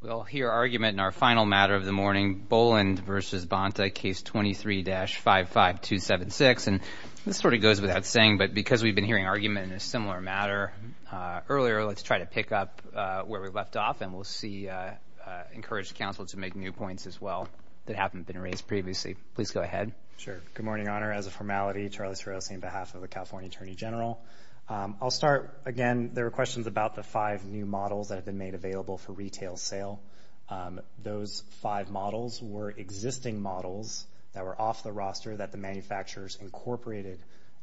We'll hear argument in our final matter of the morning, Boland v. Bonta, Case 23-55276. And this sort of goes without saying, but because we've been hearing argument in a similar matter earlier, let's try to pick up where we left off, and we'll see, encourage the Council to make new points as well that haven't been raised previously. Please go ahead. Sure. Good morning, Your Honor. As a formality, Charlie Taurosi on behalf of the California Attorney General. I'll start, again, there were questions about the five new models that have been made available for retail sale. Those five models were existing models that were off the roster that the manufacturers incorporated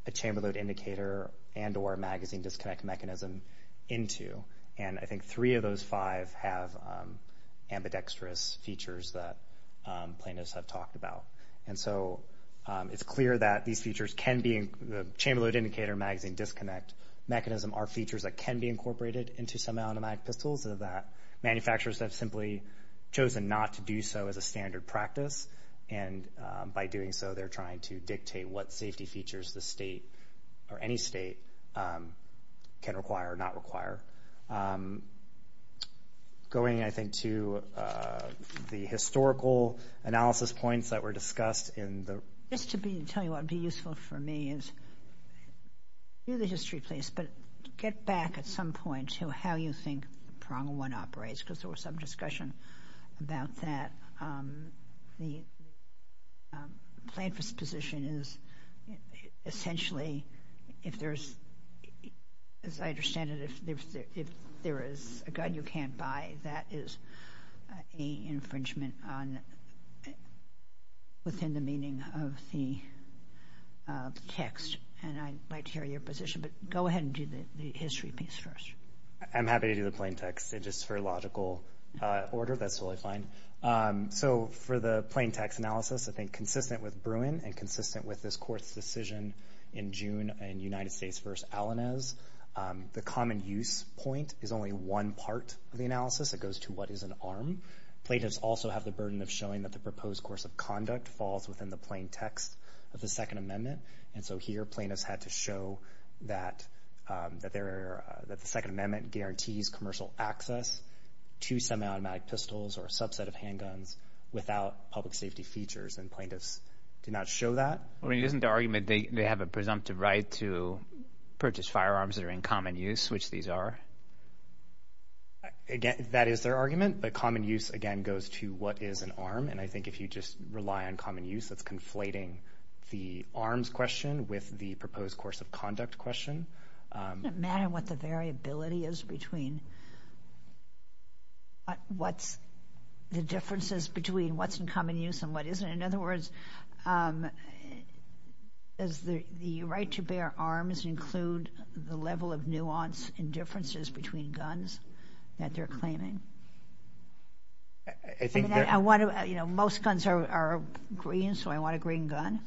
a chamber load indicator and or magazine disconnect mechanism into. And I think three of those five have ambidextrous features that plaintiffs have talked about. And so it's clear that these features can be, the chamber load indicator, magazine disconnect mechanism, are features that can be incorporated into semi-automatic pistols, and that manufacturers have simply chosen not to do so as a standard practice. And by doing so, they're trying to dictate what safety features the state or any state can require or not require. Going, I think, to the historical analysis points that were discussed in the... Just to tell you what would be useful for me is, you're the history place, but get back at some point to how you think the Prong-1 operates, because there was some discussion about that. The plaintiff's position is, essentially, if there's, as I understand it, if there is a gun you can't buy, that is a infringement within the meaning of the text. And I'd like to hear your position, but go ahead and do the history piece first. I'm happy to do the plain text, just for logical order, that's totally fine. So, for the plain text analysis, I think, consistent with Bruin, and consistent with this Court's decision in June in United States v. Alanez, the common use point is only one part of the analysis. It goes to what is an arm. Plaintiffs also have the burden of showing that the proposed course of conduct falls within the plain text of the Second Amendment, and so here plaintiffs had to show that the Second Amendment guarantees commercial access to semi-automatic pistols or a subset of handguns without public safety features, and plaintiffs did not show that. I mean, isn't the argument they have a presumptive right to purchase firearms that are in common use, which these are? Again, that is their argument, but common use, again, goes to what is an arm, and I think if you just rely on common use, that's conflating the arms question with the proposed course of conduct question. It doesn't matter what the variability is between what's the differences between what's in common use and what isn't. In other words, does the right to bear arms include the level of nuance and differences between guns that they're claiming? I mean, I want to, you know, most guns are green, so I want a green gun.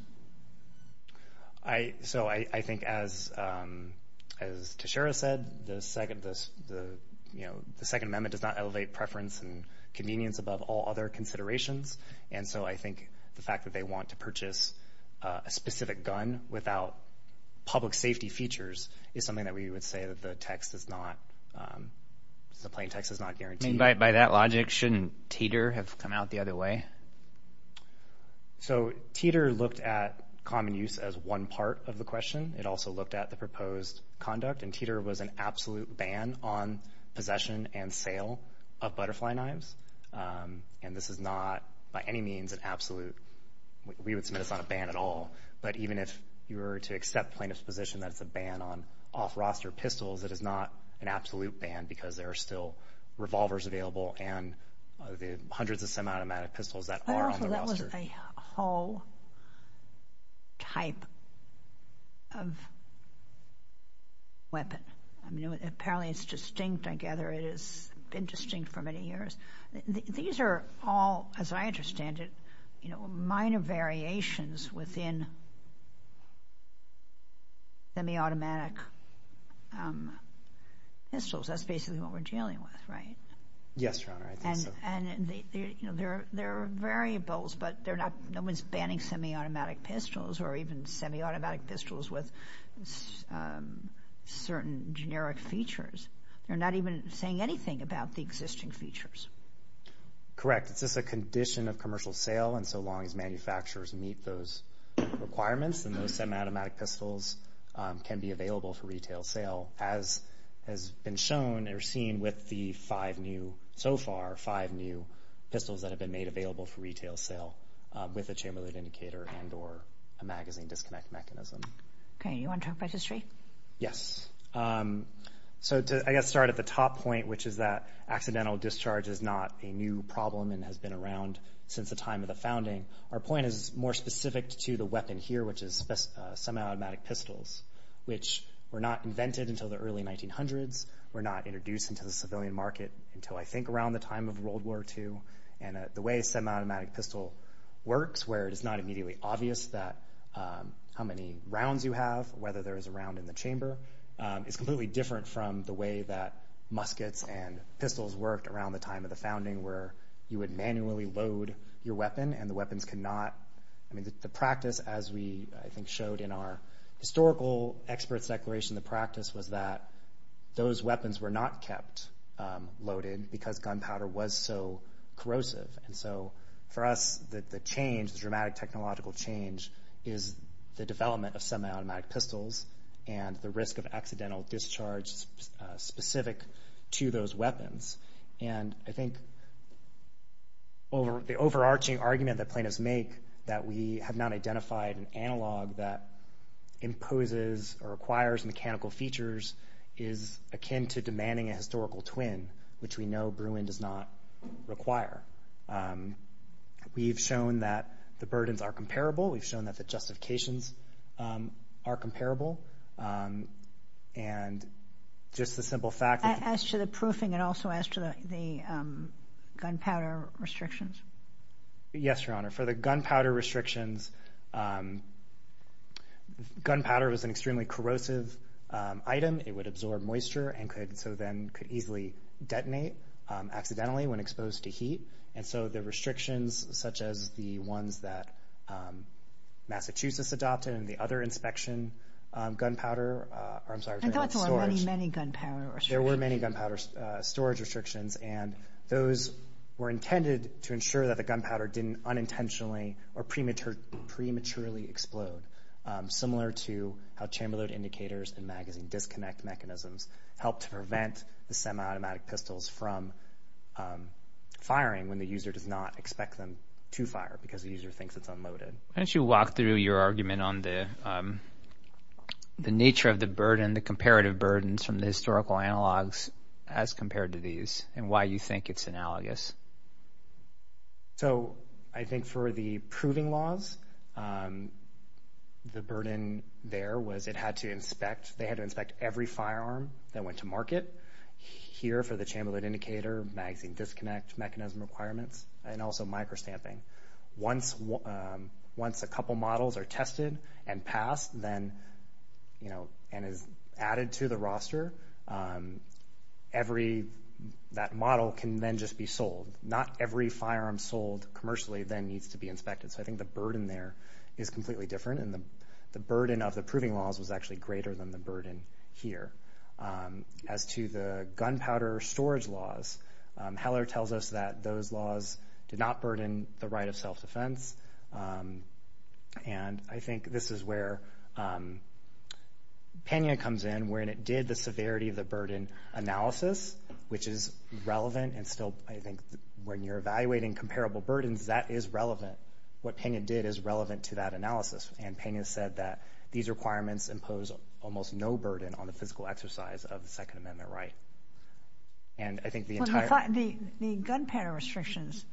So I think as Teixeira said, the Second Amendment does not elevate preference and convenience above all other considerations, and so I think the fact that they want to purchase a specific gun without public safety features is something that we would say that the plain text does not guarantee. By that logic, shouldn't Teeter have come out the other way? So Teeter looked at common use as one part of the question. It also looked at the proposed conduct, and Teeter was an absolute ban on possession and sale of butterfly knives, and this is not by any means an absolute. We would submit this on a ban at all, but even if you were to accept plaintiff's position that it's a ban on off-roster pistols, it is not an absolute ban because there are still revolvers available and the hundreds of semi-automatic pistols that are on the roster. But also that was a whole type of weapon. I mean, apparently it's distinct. I gather it has been distinct for many years. These are all, as I understand it, minor variations within semi-automatic pistols. That's basically what we're dealing with, right? Yes, Your Honor, I think so. There are variables, but no one's banning semi-automatic pistols or even semi-automatic pistols with certain generic features. They're not even saying anything about the existing features. Correct. It's just a condition of commercial sale, and so long as manufacturers meet those requirements, then those semi-automatic pistols can be available for retail sale, as has been shown or seen with the five new, so far, five new pistols that have been made available for retail sale with a chamber-load indicator and or a magazine disconnect mechanism. Okay. You want to talk about history? Yes. So I guess to start at the top point, which is that accidental discharge is not a new problem and has been around since the time of the founding. Our point is more specific to the weapon here, which is semi-automatic pistols, which were not invented until the early 1900s, were not introduced into the civilian market until, I think, around the time of World War II. And the way a semi-automatic pistol works, where it is not immediately obvious how many rounds you have, whether there is a round in the chamber, is completely different from the way that muskets and pistols worked around the time of the founding, where you would manually load your weapon and the weapons could not. I mean, the practice, as we, I think, showed in our historical experts' declaration, the practice was that those weapons were not kept loaded because gunpowder was so corrosive. And so for us, the change, the dramatic technological change, is the development of semi-automatic pistols and the risk of accidental discharge specific to those weapons. And I think the overarching argument that plaintiffs make that we have not identified an analog that imposes or acquires mechanical features is akin to demanding a historical twin, which we know Bruin does not require. We've shown that the burdens are comparable. We've shown that the justifications are comparable. And just the simple fact that... As to the proofing and also as to the gunpowder restrictions. Yes, Your Honor, for the gunpowder restrictions, gunpowder was an extremely corrosive item. It would absorb moisture and could easily detonate accidentally when exposed to heat. And so the restrictions such as the ones that Massachusetts adopted and the other inspection gunpowder, or I'm sorry, gunpowder storage. There were many, many gunpowder restrictions. There were many gunpowder storage restrictions, and those were intended to ensure that the gunpowder didn't unintentionally or prematurely explode, similar to how chamber load indicators and magazine disconnect mechanisms help to prevent the semi-automatic pistols from firing when the user does not expect them to fire because the user thinks it's unloaded. Why don't you walk through your argument on the nature of the burden, the comparative burdens from the historical analogs as compared to these and why you think it's analogous. So I think for the proving laws, the burden there was it had to inspect. They had to inspect every firearm that went to market. Here for the chamber load indicator, magazine disconnect mechanism requirements, and also microstamping. Once a couple models are tested and passed, and is added to the roster, that model can then just be sold. Not every firearm sold commercially then needs to be inspected. So I think the burden there is completely different, and the burden of the proving laws was actually greater than the burden here. As to the gunpowder storage laws, Heller tells us that those laws did not burden the right of self-defense, and I think this is where Pena comes in, where it did the severity of the burden analysis, which is relevant and still I think when you're evaluating comparable burdens, that is relevant. What Pena did is relevant to that analysis, and Pena said that these requirements impose almost no burden on the physical exercise of the Second Amendment right. The gunpowder restrictions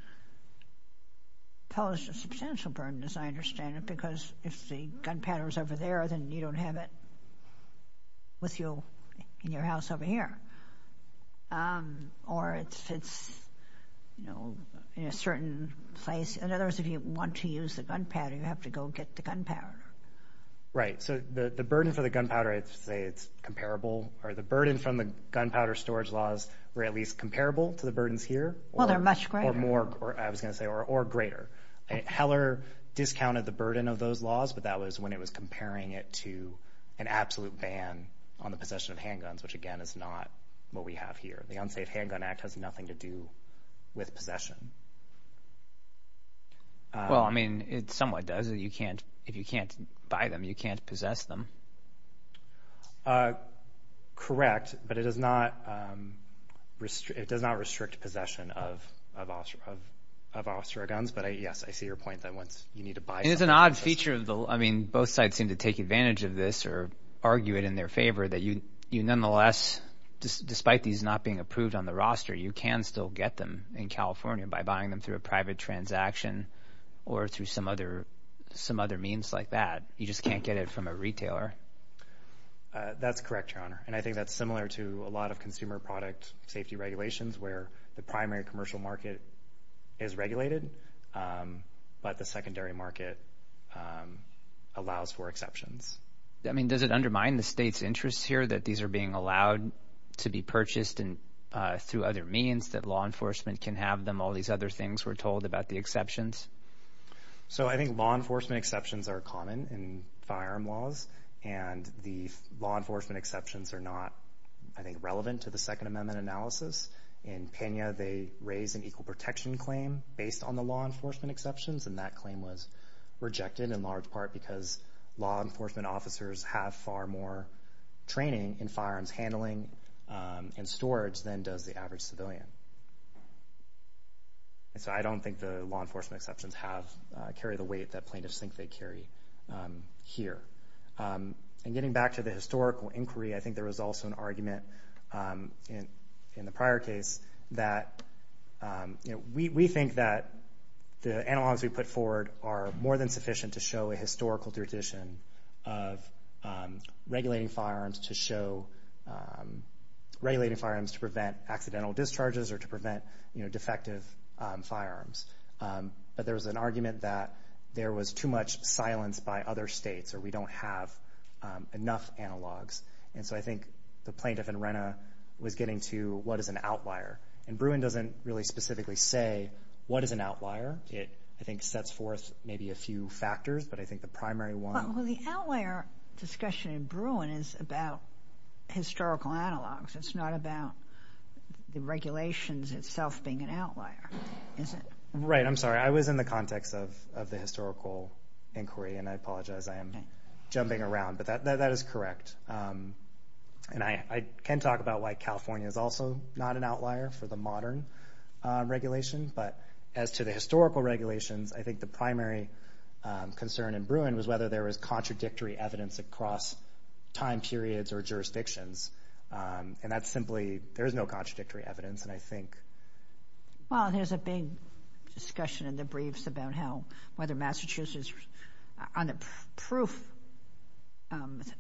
pose a substantial burden, as I understand it, because if the gunpowder is over there, then you don't have it with you in your house over here, or it's in a certain place. In other words, if you want to use the gunpowder, you have to go get the gunpowder. Right. So the burden for the gunpowder, I'd say it's comparable, or the burden from the gunpowder storage laws were at least comparable to the burdens here. Well, they're much greater. Or more, I was going to say, or greater. Heller discounted the burden of those laws, but that was when it was comparing it to an absolute ban on the possession of handguns, which again is not what we have here. The Unsafe Handgun Act has nothing to do with possession. Well, I mean, it somewhat does. If you can't buy them, you can't possess them. Correct, but it does not restrict possession of officer guns. But, yes, I see your point that once you need to buy them. It's an odd feature. I mean, both sides seem to take advantage of this or argue it in their favor that you nonetheless, despite these not being approved on the roster, you can still get them in California by buying them through a private transaction or through some other means like that. You just can't get it from a retailer. That's correct, Your Honor, and I think that's similar to a lot of consumer product safety regulations where the primary commercial market is regulated, but the secondary market allows for exceptions. I mean, does it undermine the state's interest here that these are being allowed to be purchased through other means, that law enforcement can have them, and all these other things we're told about the exceptions? So I think law enforcement exceptions are common in firearm laws, and the law enforcement exceptions are not, I think, relevant to the Second Amendment analysis. In Pena, they raise an equal protection claim based on the law enforcement exceptions, and that claim was rejected in large part because law enforcement officers have far more training in firearms handling and storage than does the average civilian. And so I don't think the law enforcement exceptions carry the weight that plaintiffs think they carry here. And getting back to the historical inquiry, I think there was also an argument in the prior case that we think that the analogs we put forward are more than sufficient to show a historical tradition of regulating firearms to prevent accidental discharges or to prevent defective firearms. But there was an argument that there was too much silence by other states or we don't have enough analogs. And so I think the plaintiff in Rhena was getting to what is an outlier, and Bruin doesn't really specifically say what is an outlier. It, I think, sets forth maybe a few factors, but I think the primary one... Well, the outlier discussion in Bruin is about historical analogs. It's not about the regulations itself being an outlier, is it? Right. I'm sorry. I was in the context of the historical inquiry, and I apologize I am jumping around, but that is correct. And I can talk about why California is also not an outlier for the modern regulation, but as to the historical regulations, I think the primary concern in Bruin was whether there was contradictory evidence across time periods or jurisdictions, and that's simply there is no contradictory evidence, and I think... Well, there's a big discussion in the briefs about how, whether Massachusetts, on the proof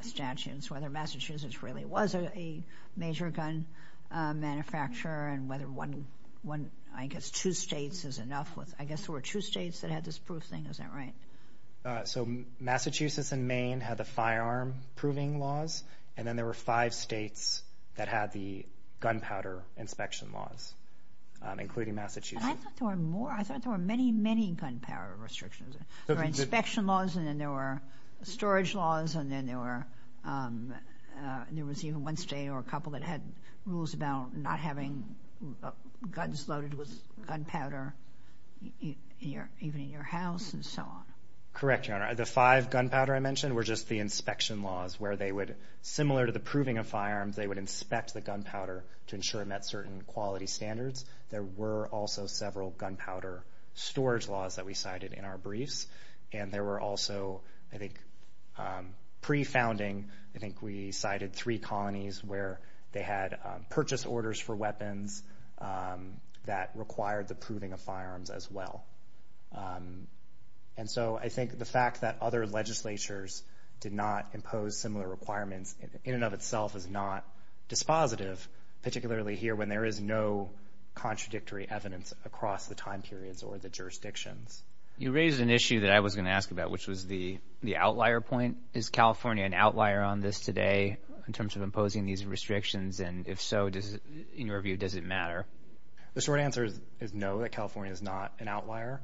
statutes, whether Massachusetts really was a major gun manufacturer and whether one, I guess, two states is enough. I guess there were two states that had this proof thing. Is that right? So Massachusetts and Maine had the firearm proving laws, and then there were five states that had the gunpowder inspection laws, including Massachusetts. I thought there were more. I thought there were many, many gunpowder restrictions. There were inspection laws, and then there were storage laws, and then there was even one state or a couple that had rules about not having guns loaded with gunpowder, even in your house and so on. Correct, Your Honor. The five gunpowder I mentioned were just the inspection laws where they would, similar to the proving of firearms, they would inspect the gunpowder to ensure it met certain quality standards. There were also several gunpowder storage laws that we cited in our briefs, and there were also, I think, pre-founding, I think we cited three colonies where they had purchase orders for weapons that required the proving of firearms as well. And so I think the fact that other legislatures did not impose similar requirements in and of itself is not dispositive, particularly here when there is no contradictory evidence across the time periods or the jurisdictions. You raised an issue that I was going to ask about, which was the outlier point. Is California an outlier on this today in terms of imposing these restrictions, and if so, in your view, does it matter? The short answer is no, that California is not an outlier.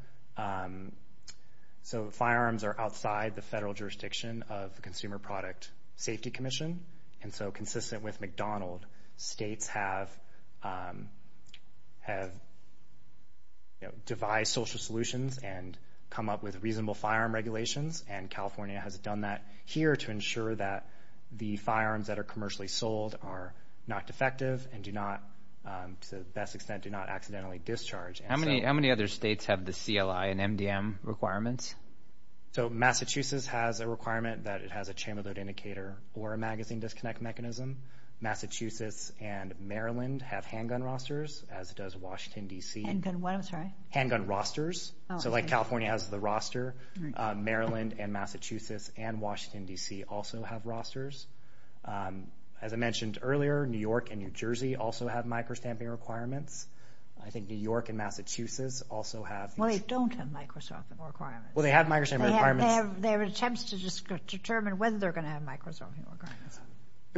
So firearms are outside the federal jurisdiction of the Consumer Product Safety Commission, and so consistent with McDonald, states have devised social solutions and come up with reasonable firearm regulations, and California has done that here to ensure that the firearms that are commercially sold are not defective and do not, to the best extent, do not accidentally discharge. How many other states have the CLI and MDM requirements? So Massachusetts has a requirement that it has a chamber load indicator or a magazine disconnect mechanism. Massachusetts and Maryland have handgun rosters, as does Washington, D.C. Handgun what? I'm sorry. Handgun rosters. So like California has the roster, Maryland and Massachusetts and Washington, D.C. also have rosters. As I mentioned earlier, New York and New Jersey also have micro-stamping requirements. I think New York and Massachusetts also have. Well, they don't have micro-stamping requirements. Well, they have micro-stamping requirements. They have attempts to just determine whether they're going to have micro-stamping requirements.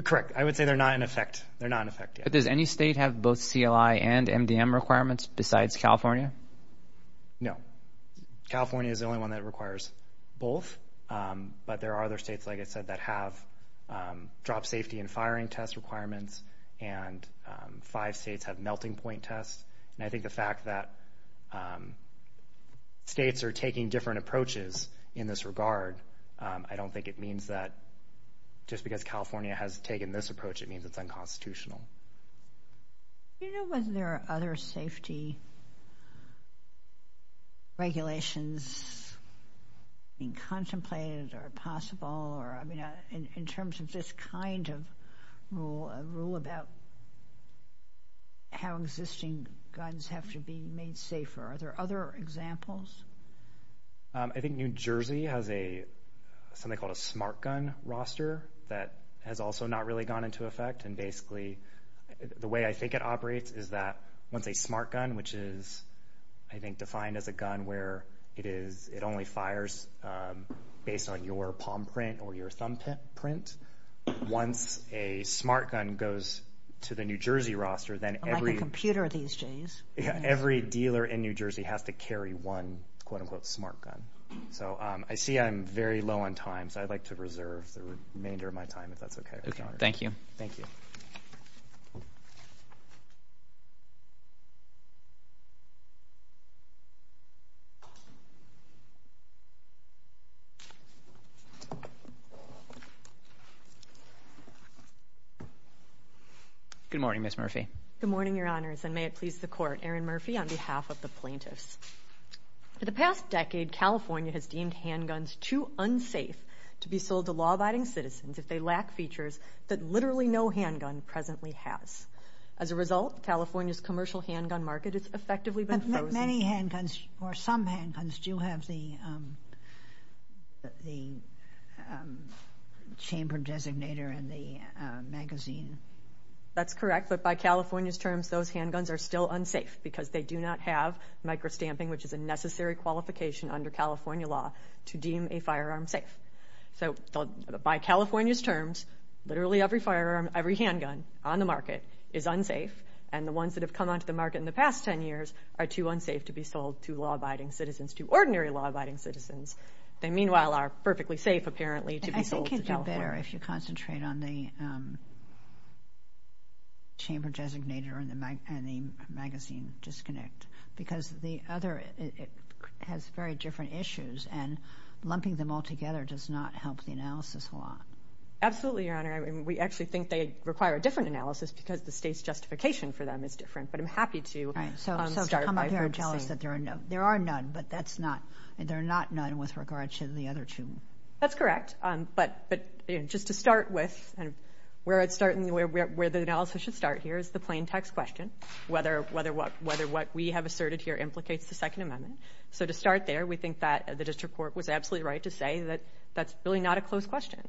Correct. I would say they're not in effect. They're not in effect yet. But does any state have both CLI and MDM requirements besides California? No. California is the only one that requires both. But there are other states, like I said, that have drop safety and firing test requirements, and five states have melting point tests. And I think the fact that states are taking different approaches in this regard, I don't think it means that just because California has taken this approach, it means it's unconstitutional. Do you know whether there are other safety regulations being contemplated or possible, in terms of this kind of rule about how existing guns have to be made safer? Are there other examples? I think New Jersey has something called a smart gun roster that has also not really gone into effect and basically the way I think it operates is that once a smart gun, which is, I think, defined as a gun where it only fires based on your palm print or your thumb print, once a smart gun goes to the New Jersey roster, then every dealer in New Jersey has to carry one, quote-unquote, smart gun. So I see I'm very low on time, so I'd like to reserve the remainder of my time, if that's okay. Thank you. Thank you. Good morning, Ms. Murphy. Good morning, Your Honors, and may it please the Court. Erin Murphy on behalf of the plaintiffs. For the past decade, California has deemed handguns too unsafe to be sold to law-abiding citizens if they lack features that literally no handgun presently has. As a result, California's commercial handgun market has effectively been frozen. Many handguns or some handguns do have the chamber designator and the magazine. That's correct, but by California's terms, those handguns are still unsafe because they do not have micro-stamping, which is a necessary qualification under California law to deem a firearm safe. So by California's terms, literally every firearm, every handgun on the market is unsafe, and the ones that have come onto the market in the past 10 years are too unsafe to be sold to law-abiding citizens, to ordinary law-abiding citizens. They, meanwhile, are perfectly safe, apparently, to be sold to California. I think it would be better if you concentrate on the chamber designator and the magazine disconnect because the other has very different issues, and lumping them all together does not help the analysis a lot. Absolutely, Your Honor. We actually think they require a different analysis because the state's justification for them is different, but I'm happy to start by saying— Right, so to come up here and tell us that there are none, but that's not— they're not none with regard to the other two. That's correct, but just to start with, where the analysis should start here is the plain text question, whether what we have asserted here implicates the Second Amendment. So to start there, we think that the district court was absolutely right to say that that's really not a closed question.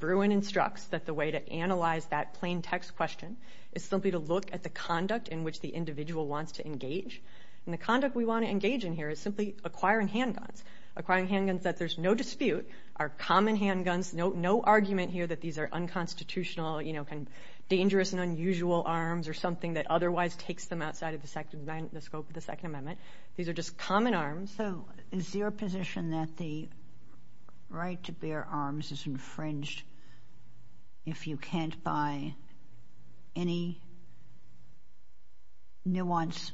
Bruin instructs that the way to analyze that plain text question is simply to look at the conduct in which the individual wants to engage, and the conduct we want to engage in here is simply acquiring handguns, acquiring handguns that there's no dispute are common handguns, no argument here that these are unconstitutional, dangerous and unusual arms or something that otherwise takes them outside of the scope of the Second Amendment. These are just common arms. So is your position that the right to bear arms is infringed if you can't buy any nuanced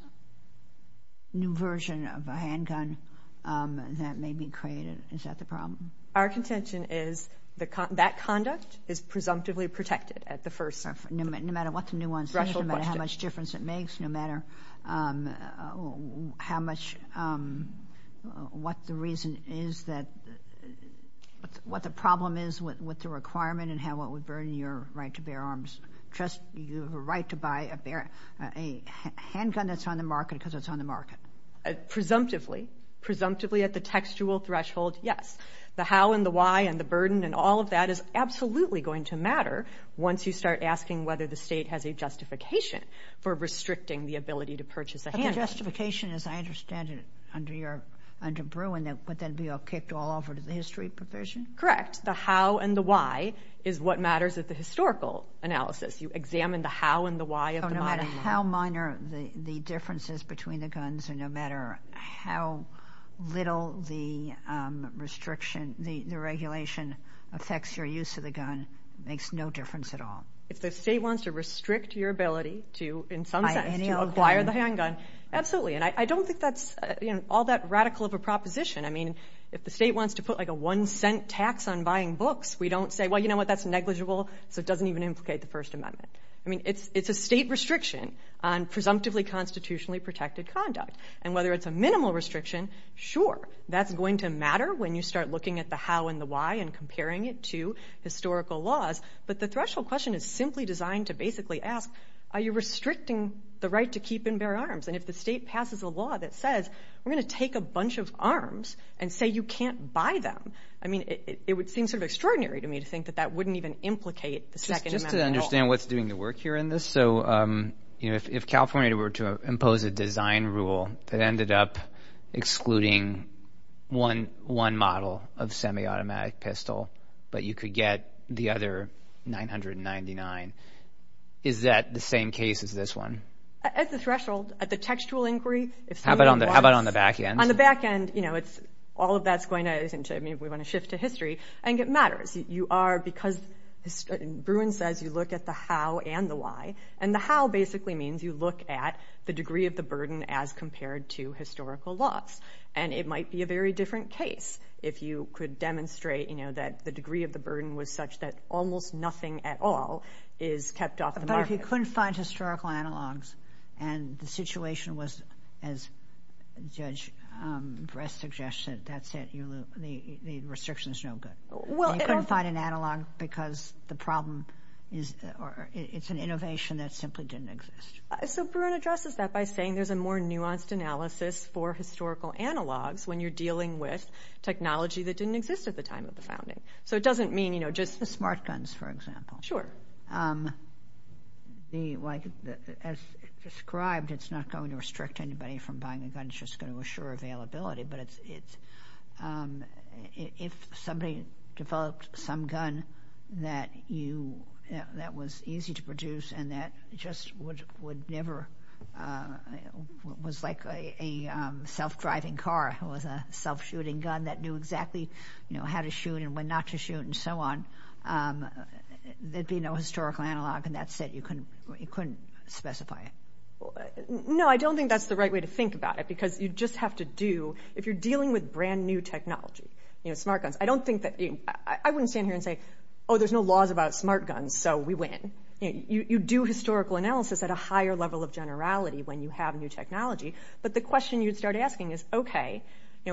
new version of a handgun that may be created? Is that the problem? Our contention is that that conduct is presumptively protected at the first— No matter what the nuance is, no matter how much difference it makes, no matter how much—what the reason is that—what the problem is with the requirement and how it would burden your right to bear arms. Trust your right to buy a handgun that's on the market because it's on the market. Presumptively. Presumptively at the textual threshold, yes. The how and the why and the burden and all of that is absolutely going to matter once you start asking whether the state has a justification for restricting the ability to purchase a handgun. But the justification, as I understand it, under Bruin, would then be kicked all over to the history provision? Correct. The how and the why is what matters at the historical analysis. You examine the how and the why of the minor— No matter how minor the differences between the guns or no matter how little the restriction, the regulation affects your use of the gun and makes no difference at all. If the state wants to restrict your ability to, in some sense, acquire the handgun, absolutely. And I don't think that's all that radical of a proposition. I mean, if the state wants to put like a one-cent tax on buying books, we don't say, well, you know what, that's negligible, so it doesn't even implicate the First Amendment. I mean, it's a state restriction on presumptively constitutionally protected conduct. And whether it's a minimal restriction, sure. That's going to matter when you start looking at the how and the why and comparing it to historical laws. But the threshold question is simply designed to basically ask, are you restricting the right to keep and bear arms? And if the state passes a law that says we're going to take a bunch of arms and say you can't buy them, I mean, it would seem sort of extraordinary to me to think that that wouldn't even implicate the Second Amendment at all. Just to understand what's doing the work here in this. So, you know, if California were to impose a design rule that ended up excluding one model of semi-automatic pistol, but you could get the other 999, is that the same case as this one? At the threshold, at the textual inquiry. How about on the back end? On the back end, you know, all of that's going to shift to history. I think it matters. You are, because Bruin says you look at the how and the why, and the how basically means you look at the degree of the burden as compared to historical laws. And it might be a very different case if you could demonstrate, you know, that the degree of the burden was such that almost nothing at all is kept off the market. But if you couldn't find historical analogs and the situation was, as Judge Bress suggested, that's it, the restriction's no good. You couldn't find an analog because the problem is or it's an innovation that simply didn't exist. So Bruin addresses that by saying there's a more nuanced analysis for historical analogs when you're dealing with technology that didn't exist at the time of the founding. So it doesn't mean, you know, just the smart guns, for example. Sure. As described, it's not going to restrict anybody from buying a gun. It's just going to assure availability. But if somebody developed some gun that was easy to produce and that just would never was like a self-driving car or was a self-shooting gun that knew exactly, you know, how to shoot and when not to shoot and so on, there'd be no historical analog, and that's it. You couldn't specify it. No, I don't think that's the right way to think about it because you just have to do, if you're dealing with brand-new technology, you know, smart guns, I don't think that you, I wouldn't stand here and say, oh, there's no laws about smart guns, so we win. You do historical analysis at a higher level of generality when you have new technology. But the question you'd start asking is, okay,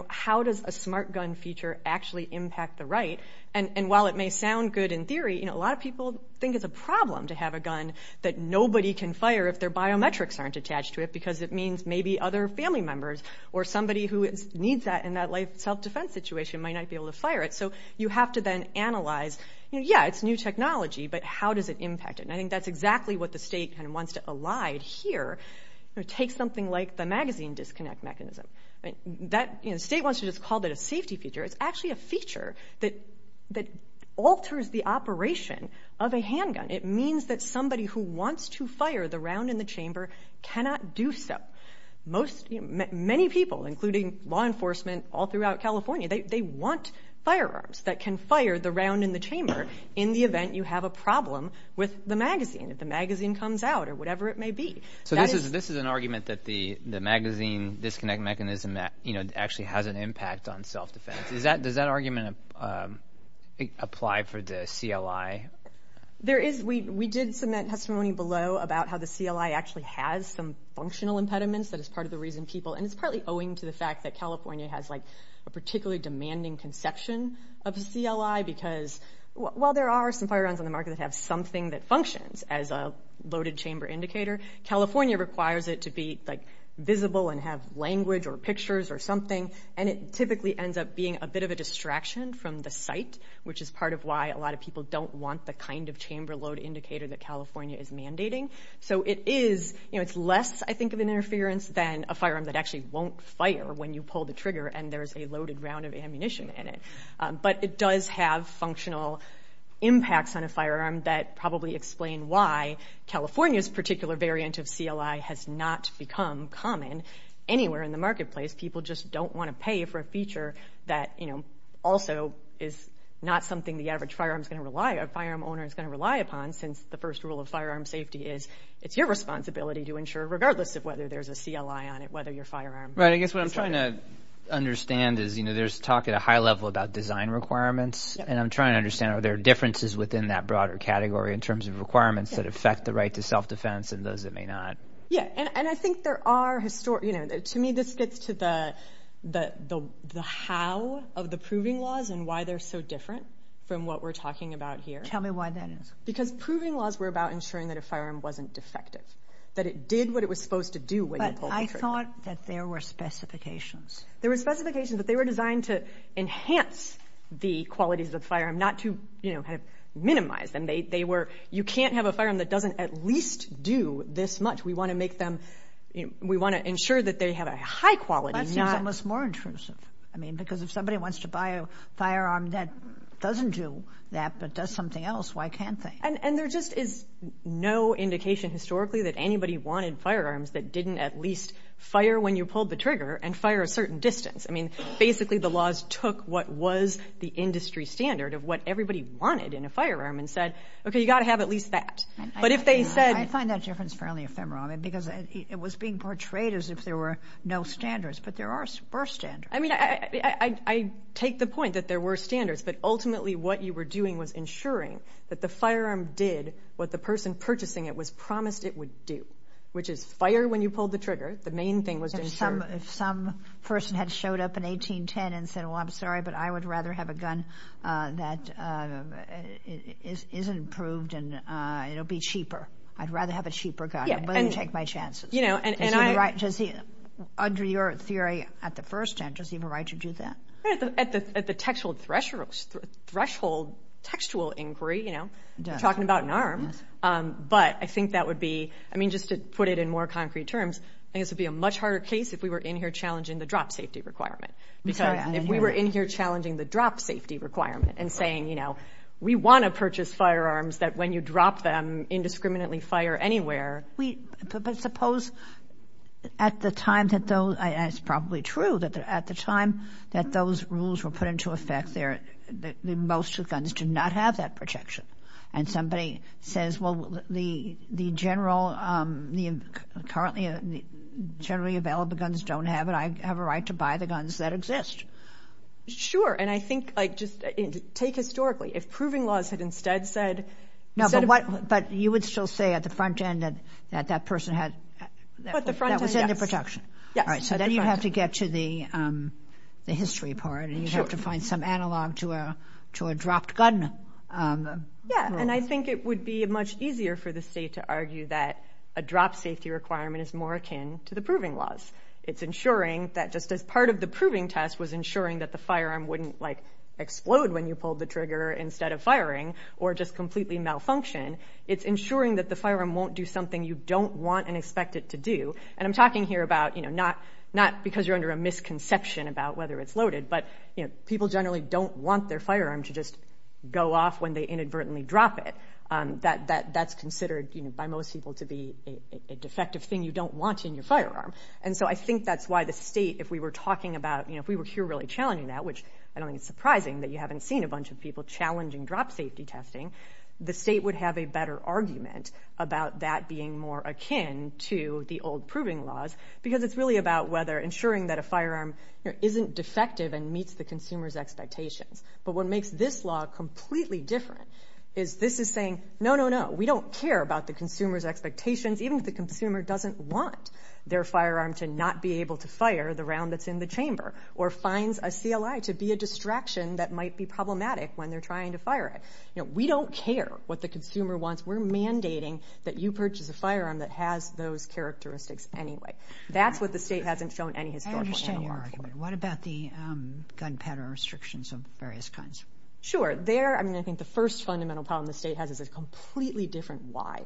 how does a smart gun feature actually impact the right? And while it may sound good in theory, a lot of people think it's a problem to have a gun that nobody can fire if their biometrics aren't attached to it because it means maybe other family members or somebody who needs that in that life self-defense situation might not be able to fire it. So you have to then analyze, yeah, it's new technology, but how does it impact it? And I think that's exactly what the state kind of wants to elide here. Take something like the magazine disconnect mechanism. The state wants to just call that a safety feature. It's actually a feature that alters the operation of a handgun. It means that somebody who wants to fire the round in the chamber cannot do so. Many people, including law enforcement all throughout California, they want firearms that can fire the round in the chamber in the event you have a problem with the magazine, if the magazine comes out or whatever it may be. So this is an argument that the magazine disconnect mechanism actually has an impact on self-defense. Does that argument apply for the CLI? We did submit testimony below about how the CLI actually has some functional impediments. That is part of the reason people, and it's partly owing to the fact that California has a particularly demanding conception of a CLI because while there are some firearms on the market that have something that functions as a loaded chamber indicator, California requires it to be visible and have language or pictures or something, and it typically ends up being a bit of a distraction from the site, which is part of why a lot of people don't want the kind of chamber load indicator that California is mandating. So it's less, I think, of an interference than a firearm that actually won't fire when you pull the trigger and there's a loaded round of ammunition in it. But it does have functional impacts on a firearm that probably explain why California's particular variant of CLI has not become common anywhere in the marketplace. People just don't want to pay for a feature that also is not something the average firearm owner is going to rely upon since the first rule of firearm safety is it's your responsibility to ensure, regardless of whether there's a CLI on it, whether your firearm is loaded. Right. I guess what I'm trying to understand is there's talk at a high level about design requirements, and I'm trying to understand are there differences within that broader category in terms of requirements that affect the right to self-defense and those that may not. Yeah, and I think there are historic... of the proving laws and why they're so different from what we're talking about here. Tell me why that is. Because proving laws were about ensuring that a firearm wasn't defective, that it did what it was supposed to do when you pulled the trigger. But I thought that there were specifications. There were specifications that they were designed to enhance the qualities of the firearm, not to, you know, minimize them. They were, you can't have a firearm that doesn't at least do this much. We want to make them, we want to ensure that they have a high quality, not... I mean, because if somebody wants to buy a firearm that doesn't do that but does something else, why can't they? And there just is no indication historically that anybody wanted firearms that didn't at least fire when you pulled the trigger and fire a certain distance. I mean, basically the laws took what was the industry standard of what everybody wanted in a firearm and said, okay, you've got to have at least that. But if they said... I find that difference fairly ephemeral, because it was being portrayed as if there were no standards, but there were standards. I mean, I take the point that there were standards, but ultimately what you were doing was ensuring that the firearm did what the person purchasing it was promised it would do, which is fire when you pulled the trigger. The main thing was to ensure... If some person had showed up in 1810 and said, well, I'm sorry, but I would rather have a gun that is improved and it'll be cheaper, I'd rather have a cheaper gun. I wouldn't take my chances. Under your theory at the first hand, does he have a right to do that? At the textual threshold, textual inquiry, you know, talking about an arm. But I think that would be... I mean, just to put it in more concrete terms, I think this would be a much harder case if we were in here challenging the drop safety requirement. Because if we were in here challenging the drop safety requirement and saying, you know, we want to purchase firearms that when you drop them indiscriminately fire anywhere... But suppose at the time that those... And it's probably true that at the time that those rules were put into effect, most guns do not have that protection. And somebody says, well, the generally available guns don't have it. I have a right to buy the guns that exist. Sure. And I think, like, just take historically. If proving laws had instead said... But you would still say at the front end that that person had... At the front end, yes. That was under protection. So then you'd have to get to the history part and you'd have to find some analog to a dropped gun. Yeah, and I think it would be much easier for the state to argue that a drop safety requirement is more akin to the proving laws. It's ensuring that just as part of the proving test was ensuring that the firearm wouldn't, like, explode when you pulled the trigger instead of firing or just completely malfunction, it's ensuring that the firearm won't do something you don't want and expect it to do. And I'm talking here about, you know, not because you're under a misconception about whether it's loaded, but people generally don't want their firearm to just go off when they inadvertently drop it. That's considered by most people to be a defective thing you don't want in your firearm. And so I think that's why the state, if we were talking about... If we were here really challenging that, which I don't think it's surprising that you haven't seen a bunch of people challenging drop safety testing, the state would have a better argument about that being more akin to the old proving laws because it's really about whether ensuring that a firearm isn't defective and meets the consumer's expectations. But what makes this law completely different is this is saying, no, no, no, we don't care about the consumer's expectations, even if the consumer doesn't want their firearm to not be able to fire the round that's in the chamber or finds a CLI to be a distraction that might be problematic when they're trying to fire it. You know, we don't care what the consumer wants. We're mandating that you purchase a firearm that has those characteristics anyway. That's what the state hasn't shown any historical... I understand your argument. What about the gunpowder restrictions of various kinds? Sure. I mean, I think the first fundamental problem the state has is a completely different why.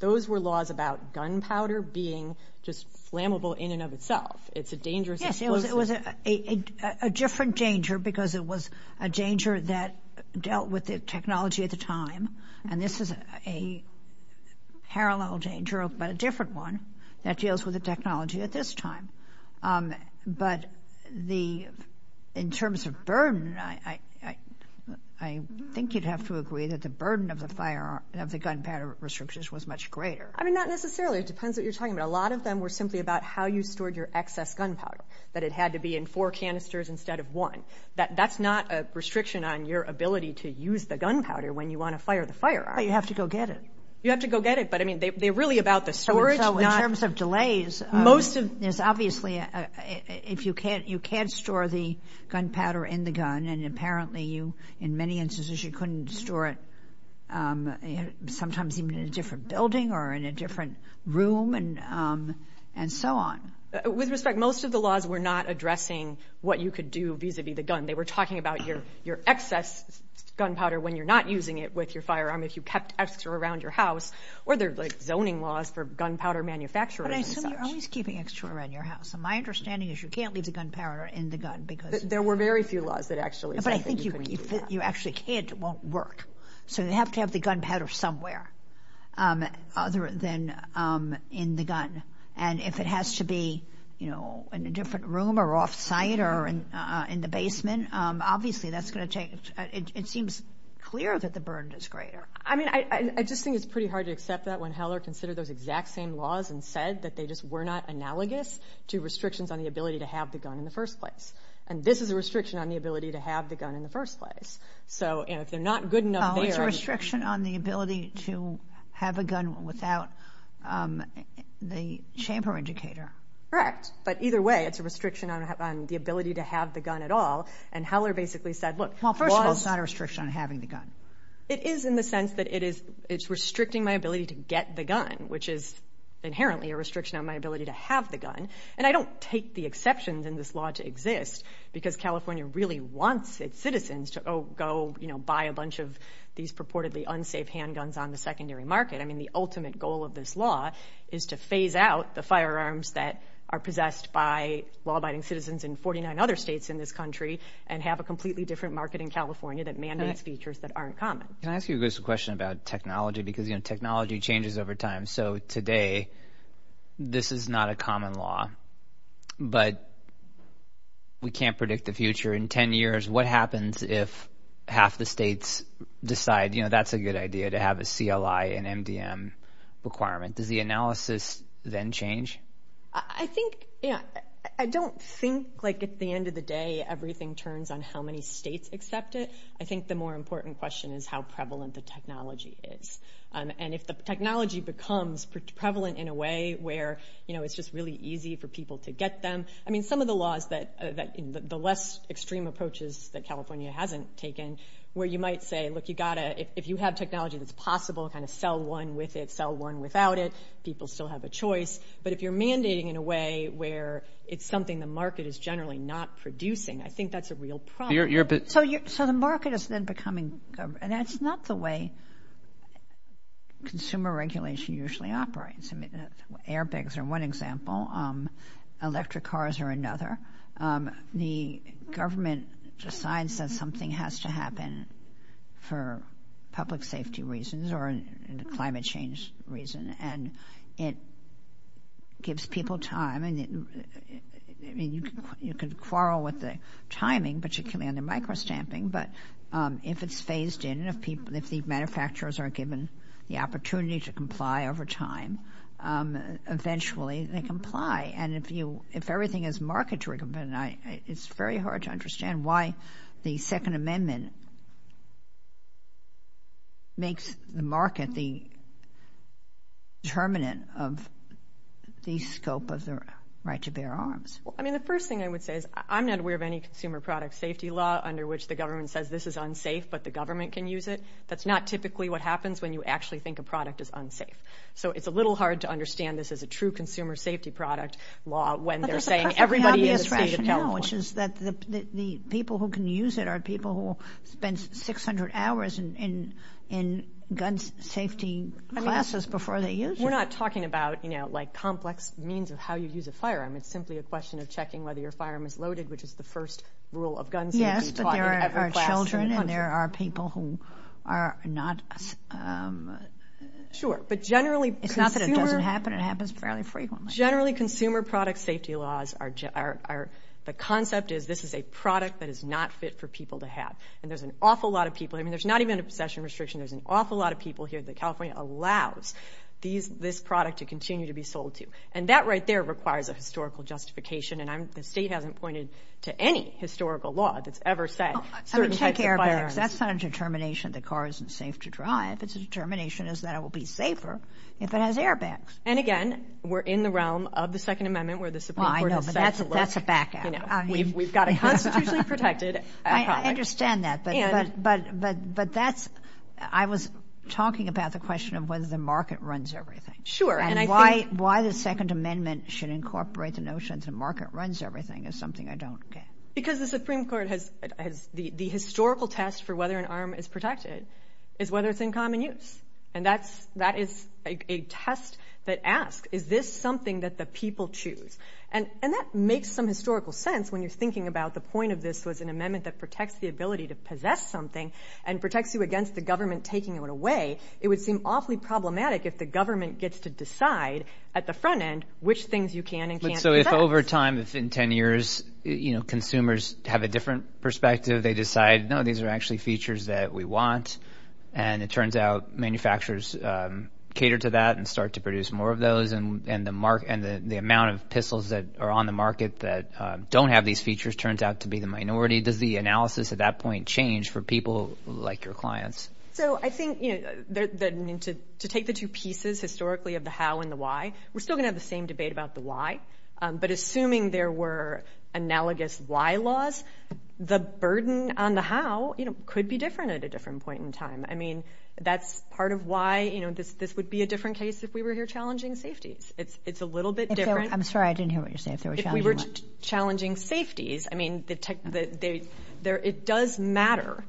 Those were laws about gunpowder being just flammable in and of itself. It's a dangerous explosive. Yes, it was a different danger because it was a danger that dealt with the technology at the time, and this is a parallel danger but a different one that deals with the technology at this time. But in terms of burden, I think you'd have to agree that the burden of the gunpowder restrictions was much greater. I mean, not necessarily. It depends what you're talking about. A lot of them were simply about how you stored your excess gunpowder, that it had to be in four canisters instead of one. That's not a restriction on your ability to use the gunpowder when you want to fire the fire. But you have to go get it. You have to go get it, but I mean, they're really about the storage, not... So in terms of delays... Most of... There's obviously... If you can't store the gunpowder in the gun, and apparently you, in many instances, you couldn't store it sometimes even in a different building or in a different room and so on. With respect, most of the laws were not addressing what you could do vis-a-vis the gun. They were talking about your excess gunpowder when you're not using it with your firearm, if you kept extra around your house, or there are zoning laws for gunpowder manufacturers and such. But I assume you're always keeping extra around your house. And my understanding is you can't leave the gunpowder in the gun because... There were very few laws that actually said that you couldn't do that. But I think if you actually can't, it won't work. So you have to have the gunpowder somewhere other than in the gun. And if it has to be, you know, in a different room or off-site or in the basement, obviously that's going to take... It seems clear that the burden is greater. I mean, I just think it's pretty hard to accept that when Heller considered those exact same laws and said that they just were not analogous to restrictions on the ability to have the gun in the first place. And this is a restriction on the ability to have the gun in the first place. So, you know, if they're not good enough there... Oh, it's a restriction on the ability to have a gun without the chamber indicator. Correct. But either way, it's a restriction on the ability to have the gun at all. And Heller basically said, look... Well, first of all, it's not a restriction on having the gun. It is in the sense that it's restricting my ability to get the gun, which is inherently a restriction on my ability to have the gun. And I don't take the exceptions in this law to exist because California really wants its citizens to go, you know, buy a bunch of these purportedly unsafe handguns on the secondary market. I mean, the ultimate goal of this law is to phase out the firearms that are possessed by law-abiding citizens in 49 other states in this country and have a completely different market in California that mandates features that aren't common. Can I ask you a question about technology? Because, you know, technology changes over time. So today, this is not a common law. But we can't predict the future. In 10 years, what happens if half the states decide, you know, that's a good idea to have a CLI and MDM requirement? Does the analysis then change? I think, you know, I don't think, like, at the end of the day, everything turns on how many states accept it. I think the more important question is how prevalent the technology is. And if the technology becomes prevalent in a way where, you know, it's just really easy for people to get them, I mean, some of the laws that the less extreme approaches that California hasn't taken where you might say, look, you got to, if you have technology that's possible, kind of sell one with it, sell one without it. People still have a choice. But if you're mandating in a way where it's something the market is generally not producing, I think that's a real problem. So the market is then becoming, and that's not the way consumer regulation usually operates. I mean, airbags are one example. Electric cars are another. The government decides that something has to happen for public safety reasons or climate change reason, and it gives people time. I mean, you can quarrel with the timing, particularly on the micro-stamping, but if it's phased in, if the manufacturers are given the opportunity to comply over time, eventually they comply. And if everything is market-driven, it's very hard to understand why the Second Amendment makes the market the determinant of the scope of the right to bear arms. Well, I mean, the first thing I would say is I'm not aware of any consumer product safety law under which the government says this is unsafe but the government can use it. That's not typically what happens when you actually think a product is unsafe. So it's a little hard to understand this as a true consumer safety product law when they're saying everybody is a state of California. Which is that the people who can use it are people who spent 600 hours in gun safety classes before they used it. We're not talking about, you know, like complex means of how you use a firearm. It's simply a question of checking whether your firearm is loaded, which is the first rule of gun safety taught in every class in the country. Yes, but there are children and there are people who are not... Sure, but generally... It's not that it doesn't happen. It happens fairly frequently. Generally, consumer product safety laws the concept is this is a product that is not fit for people to have. And there's an awful lot of people... I mean, there's not even a possession restriction. There's an awful lot of people here that California allows this product to continue to be sold to. And that right there requires a historical justification. And the state hasn't pointed to any historical law that's ever said certain types of firearms... I mean, check airbags. That's not a determination the car isn't safe to drive. It's a determination that it will be safer if it has airbags. And again, we're in the realm of the Second Amendment where the Supreme Court has said... Well, I know, but that's a back out. We've got it constitutionally protected. I understand that, but that's... I was talking about the question of whether the market runs everything. Sure, and I think... And why the Second Amendment should incorporate the notion that the market runs everything is something I don't get. Because the Supreme Court has... The historical test for whether an arm is protected is whether it's in common use. And that is a test that asks is this something that the people choose? And that makes some historical sense when you're thinking about the point of this was an amendment that protects the ability to possess something and protects you against the government taking it away. It would seem awfully problematic if the government gets to decide at the front end which things you can and can't possess. So if over time, if in 10 years, consumers have a different perspective, they decide, no, these are actually features that we want. And it turns out manufacturers cater to that and start to produce more of those. And the amount of pistols that are on the market that don't have these features turns out to be the minority. Does the analysis at that point change for people like your clients? So I think... To take the two pieces historically of the how and the why, we're still going to have the same debate about the why. But assuming there were analogous why laws, the burden on the how could be different at a different point in time. I mean, that's part of why this would be a different case if we were here challenging safeties. It's a little bit different. I'm sorry, I didn't hear what you're saying. If we were challenging safeties, I mean, it does matter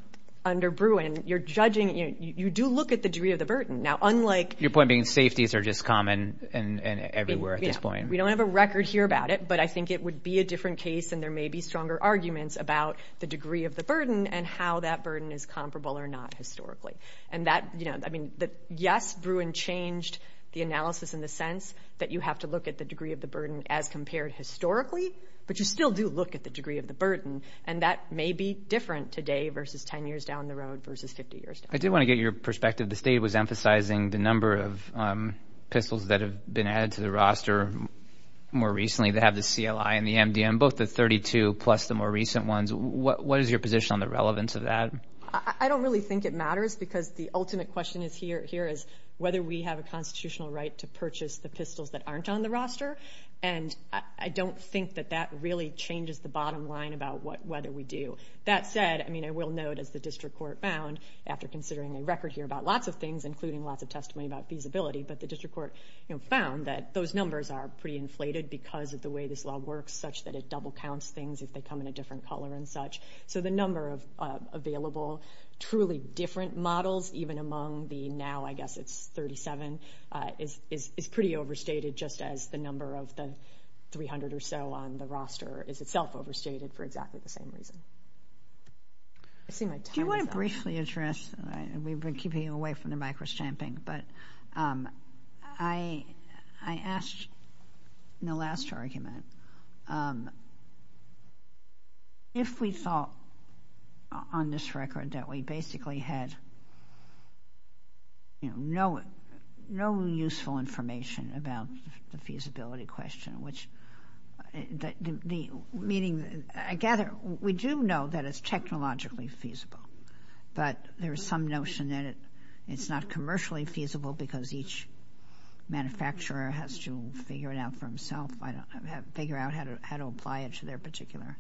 under Bruin. You're judging, you do look at the degree of the burden. Now, unlike... Your point being safeties are just common and everywhere at this point. We don't have a record here about it, but I think it would be a different case and there may be stronger arguments about the degree of the burden and how that burden is comparable or not historically. I mean, yes, Bruin changed the analysis in the sense that you have to look at the degree of the burden as compared historically, but you still do look at the degree of the burden and that may be different today versus 10 years down the road versus 50 years down the road. I did want to get your perspective. The state was emphasizing the number of pistols that have been added to the roster more recently. They have the CLI and the MDM, both the 32 plus the more recent ones. What is your position on the relevance of that? I don't really think it matters because the ultimate question is here is whether we have a constitutional right to purchase the pistols that aren't on the roster and I don't think that that really changes the bottom line about what whether we do. That said, I mean, I will note as the district court found after considering a record here about lots of things, including lots of testimony about feasibility, but the district court found that those numbers are pretty inflated because of the way this law works such that it double counts things if they come in a different color and such. So the number of available truly different models, even among the now I guess it's 37, is pretty overstated just as the number of the 300 or so on the roster is itself overstated for exactly the same reason. I see my time is up. Do you want to briefly address, we've been keeping you away from the micro stamping, but I asked in the last argument if we thought on this record that we basically had no useful information about the feasibility question, which meaning I gather we do know that it's technologically feasible, but there is some notion that it's not commercially feasible because each manufacturer has to figure it out for himself, figure out how to apply it to their particular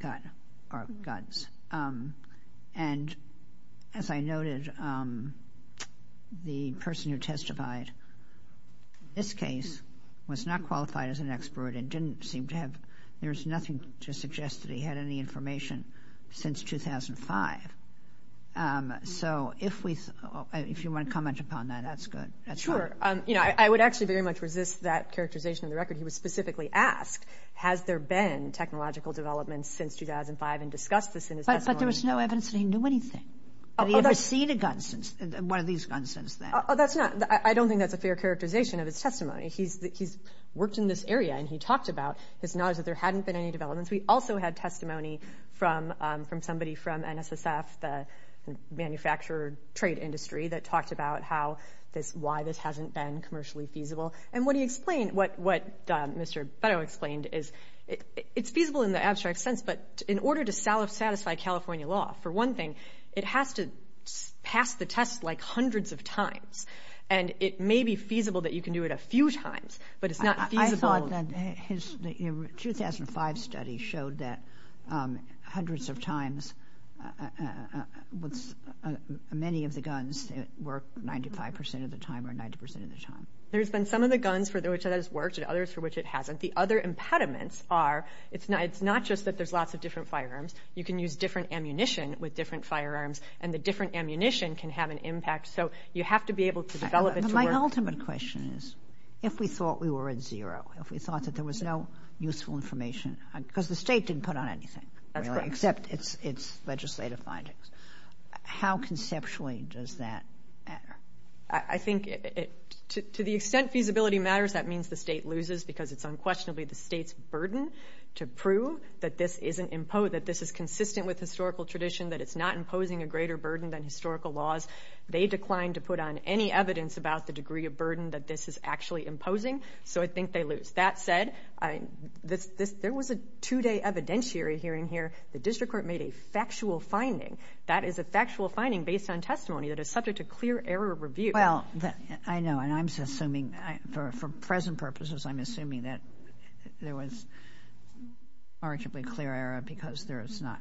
guns. And as I noted, the person who testified in this case was not qualified as an expert and didn't seem to have, there's nothing to suggest that he had any information since 2005. So if you want to comment upon that, that's good. That's fine. Sure. I would actually very much resist that characterization of the record. He was specifically asked, has there been technological developments since 2005 and discussed this in his testimony. But there was no evidence that he knew anything. Did he ever see the guns since, one of these guns since then? That's not, I don't think that's a fair characterization of his testimony. He's worked in this area and he talked about his knowledge that there hadn't been any developments. We also had testimony from somebody from NSSF, the manufacturer trade industry, that talked about how this, why this hasn't been commercially feasible. And what he explained, what Mr. Beto explained, is it's feasible in the abstract sense, but in order to satisfy California law, for one thing, it has to pass the test like hundreds of times. And it may be feasible that you can do it a few times, but it's not feasible. I thought that his 2005 study showed that hundreds of times, many of the guns work 95% of the time or 90% of the time. There's been some of the guns for which it has worked and others for which it hasn't. The other impediments are, it's not just that there's lots of different firearms. You can use different ammunition with different firearms and the different ammunition can have an impact. So you have to be able to develop it to work. My ultimate question is, if we thought we were at zero, if we thought that there was no useful information, because the state didn't put on anything, really, except its legislative findings, how conceptually does that matter? I think to the extent feasibility matters, that means the state loses because it's unquestionably the state's burden to prove that this is consistent with historical tradition, that it's not imposing a greater burden than historical laws. They declined to put on any evidence about the degree of burden that this is actually imposing, so I think they lose. That said, there was a two-day evidentiary hearing here. The district court made a factual finding. That is a factual finding based on testimony that is subject to clear error review. Well, I know, and I'm assuming, for present purposes, I'm assuming that there was arguably clear error because there is not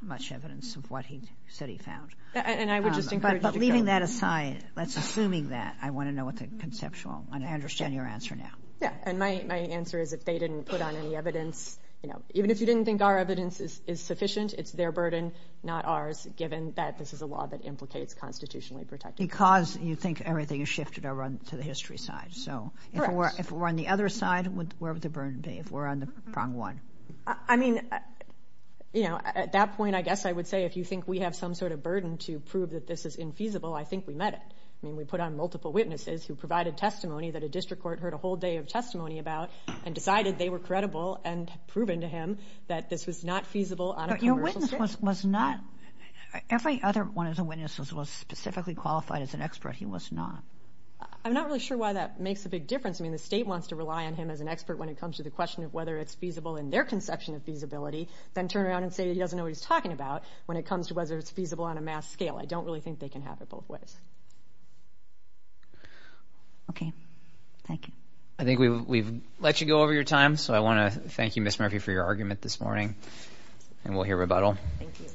much evidence of what he said he found. And I would just encourage you to go... But leaving that aside, let's, assuming that, I want to know what the conceptual... I understand your answer now. Yeah, and my answer is if they didn't put on any evidence, you know, even if you didn't think our evidence is sufficient, it's their burden, not ours, given that this is a law that implicates constitutionally protected evidence. Because you think everything is shifted to the history side, so... Correct. If we're on the other side, where would the burden be, if we're on the prong one? I mean, you know, at that point, I guess I would say if you think we have some sort of burden to prove that this is infeasible, I think we met it. I mean, we put on multiple witnesses who provided testimony that a district court heard a whole day of testimony about and decided they were credible and proven to him that this was not feasible on a commercial... But your witness was not... Every other one of the witnesses was specifically qualified as an expert. He was not. I'm not really sure why that makes a big difference. I mean, the state wants to rely on him as an expert when it comes to the question of whether it's feasible in their conception of feasibility, then turn around and say he doesn't know what he's talking about when it comes to whether it's feasible on a mass scale. I don't really think they can have it both ways. Okay. Thank you. I think we've let you go over your time, so I want to thank you, Ms. Murphy, for your argument this morning, and we'll hear rebuttal. Thank you.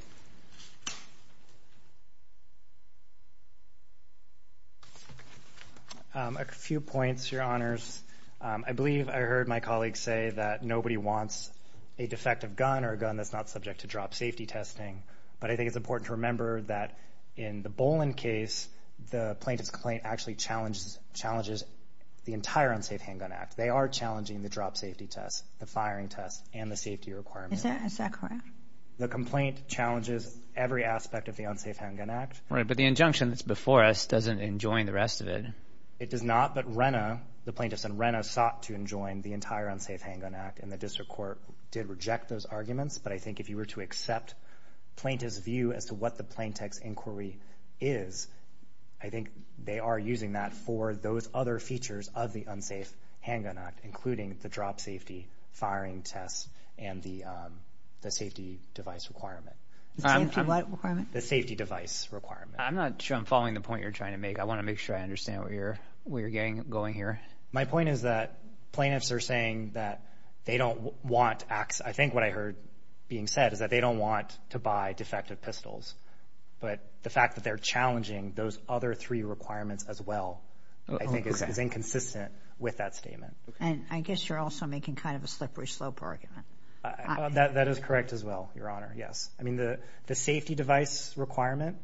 A few points, Your Honors. I believe I heard my colleague say that nobody wants a defective gun or a gun that's not subject to drop safety testing, but I think it's important to remember that in the Bolin case, the plaintiff's complaint actually challenges the entire Unsafe Handgun Act. They are challenging the drop safety test, the firing test, and the safety requirement. Is that correct? The complaint challenges every aspect of the Unsafe Handgun Act. Right, but the injunction that's before us doesn't enjoin the rest of it. It does not, but Renna, the plaintiff's son, sought to enjoin the entire Unsafe Handgun Act, and the district court did reject those arguments, but I think if you were to accept the plaintiff's view as to what the plaintiff's inquiry is, I think they are using that for those other features of the Unsafe Handgun Act, including the drop safety, firing test, and the safety device requirement. The safety device requirement. I'm not sure I'm following the point you're trying to make. I want to make sure I understand where you're going here. My point is that plaintiffs are saying that they don't want access. I think what I heard being said is that they don't want to buy defective pistols, but the fact that they're challenging those other three requirements as well I think is inconsistent with that statement. And I guess you're also making kind of a slippery slope argument. That is correct as well, Your Honor, yes. I mean, the safety device requirement,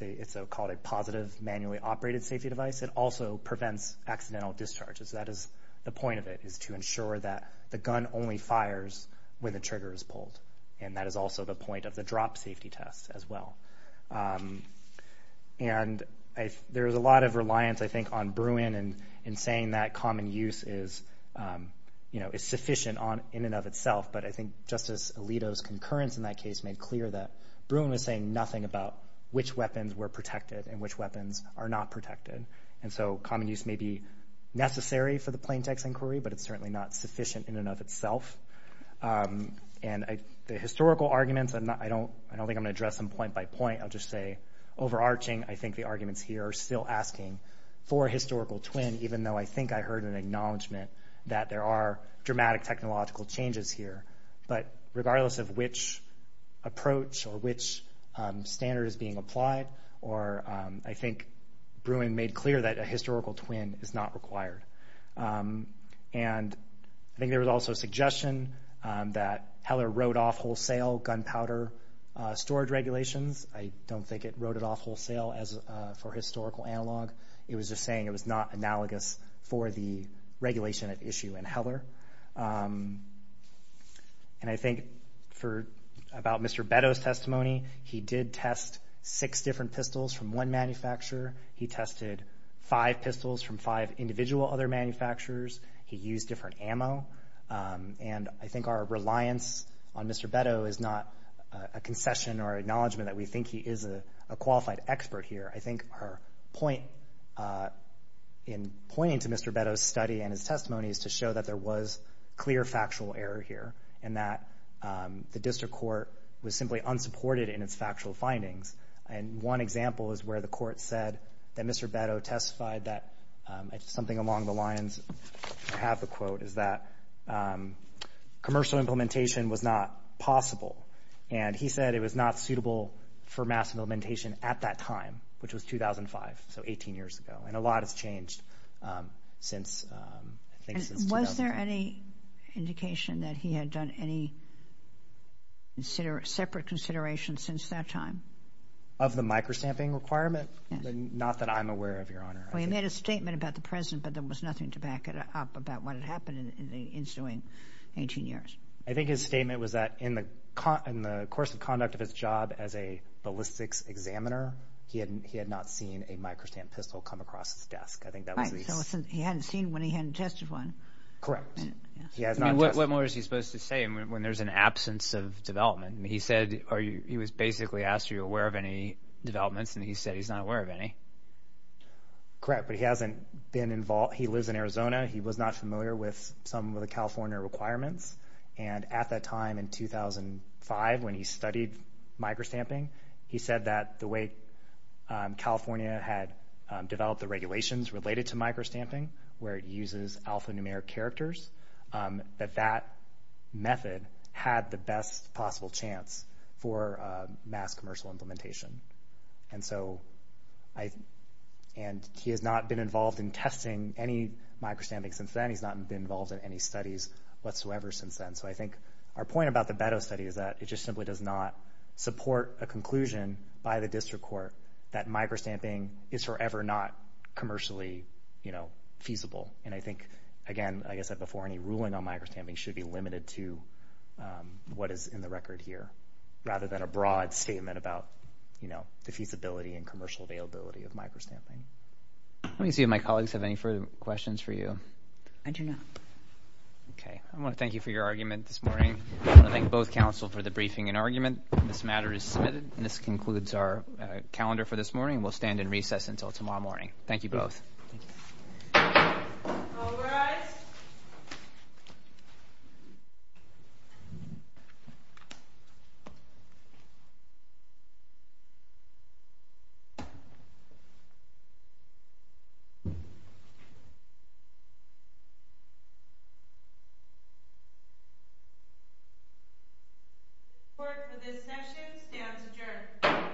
it's called a positive manually operated safety device. It also prevents accidental discharges. That is the point of it, is to ensure that the gun only fires when the trigger is pulled. And that is also the point of the drop safety test as well. And there is a lot of reliance, I think, on Bruin in saying that common use is sufficient in and of itself, but I think Justice Alito's concurrence in that case made clear that Bruin was saying nothing about which weapons were protected and which weapons are not protected. And so common use may be necessary for the plaintext inquiry, but it's certainly not sufficient in and of itself. And the historical arguments, I don't think I'm going to address them point by point. I'll just say overarching, I think the arguments here are still asking for a historical twin, even though I think I heard an acknowledgement that there are dramatic technological changes here. But regardless of which approach or which standard is being applied, I think Bruin made clear that a historical twin is not required. And I think there was also a suggestion that Heller wrote off wholesale gunpowder storage regulations. I don't think it wrote it off wholesale for historical analog. It was just saying it was not analogous for the regulation at issue in Heller. And I think for about Mr. Beto's testimony, he did test six different pistols from one manufacturer. He tested five pistols from five individual other manufacturers. He used different ammo. And I think our reliance on Mr. Beto is not a concession or acknowledgement that we think he is a qualified expert here. I think her point in pointing to Mr. Beto's study and his testimony is to show that there was clear factual error here and that the district court was simply unsupported in its factual findings. And one example is where the court said that Mr. Beto testified that something along the lines of half a quote is that commercial implementation was not possible. And he said it was not suitable for mass implementation at that time, which was 2005, so 18 years ago. And a lot has changed since Was there any indication that he had done any separate consideration since that time? Of the microstamping requirement? Not that I'm aware of, Your Honor. Well, he made a statement about the present but there was nothing to back it up about what had happened in the ensuing 18 years. I think his statement was that in the course of conduct examiner, he had not seen a microstamp pistol come across his desk. He hadn't seen one, he hadn't tested one. Correct. What more is he supposed to say when there's an absence of development? He said, or he was basically asked are you aware of any developments and he said he's not aware of any. Correct, but he hasn't been involved he lives in Arizona, he was not familiar with some of the California requirements and at that time in 2005 when he studied microstamping, he said that the way California had developed the regulations related to microstamping where it uses alphanumeric characters that that method had the best possible chance for mass commercial implementation. He has not been involved in testing any microstamping since then. He's not been involved in any studies whatsoever since then. So I think our point about the Beto study is that it just simply does not support a conclusion by the government. Microstamping is forever not commercially feasible and I think again I guess that before any ruling on microstamping should be limited to what is in the record here rather than a broad statement about the feasibility and commercial availability of microstamping. Let me see if my colleagues have any further questions for you. I do not. I want to thank you for your argument this morning. I want to thank both council for the briefing and argument. This matter is submitted and this concludes our calendar for this morning. We'll stand in recess until tomorrow morning. Thank you both. All rise. Report for this session stands adjourned.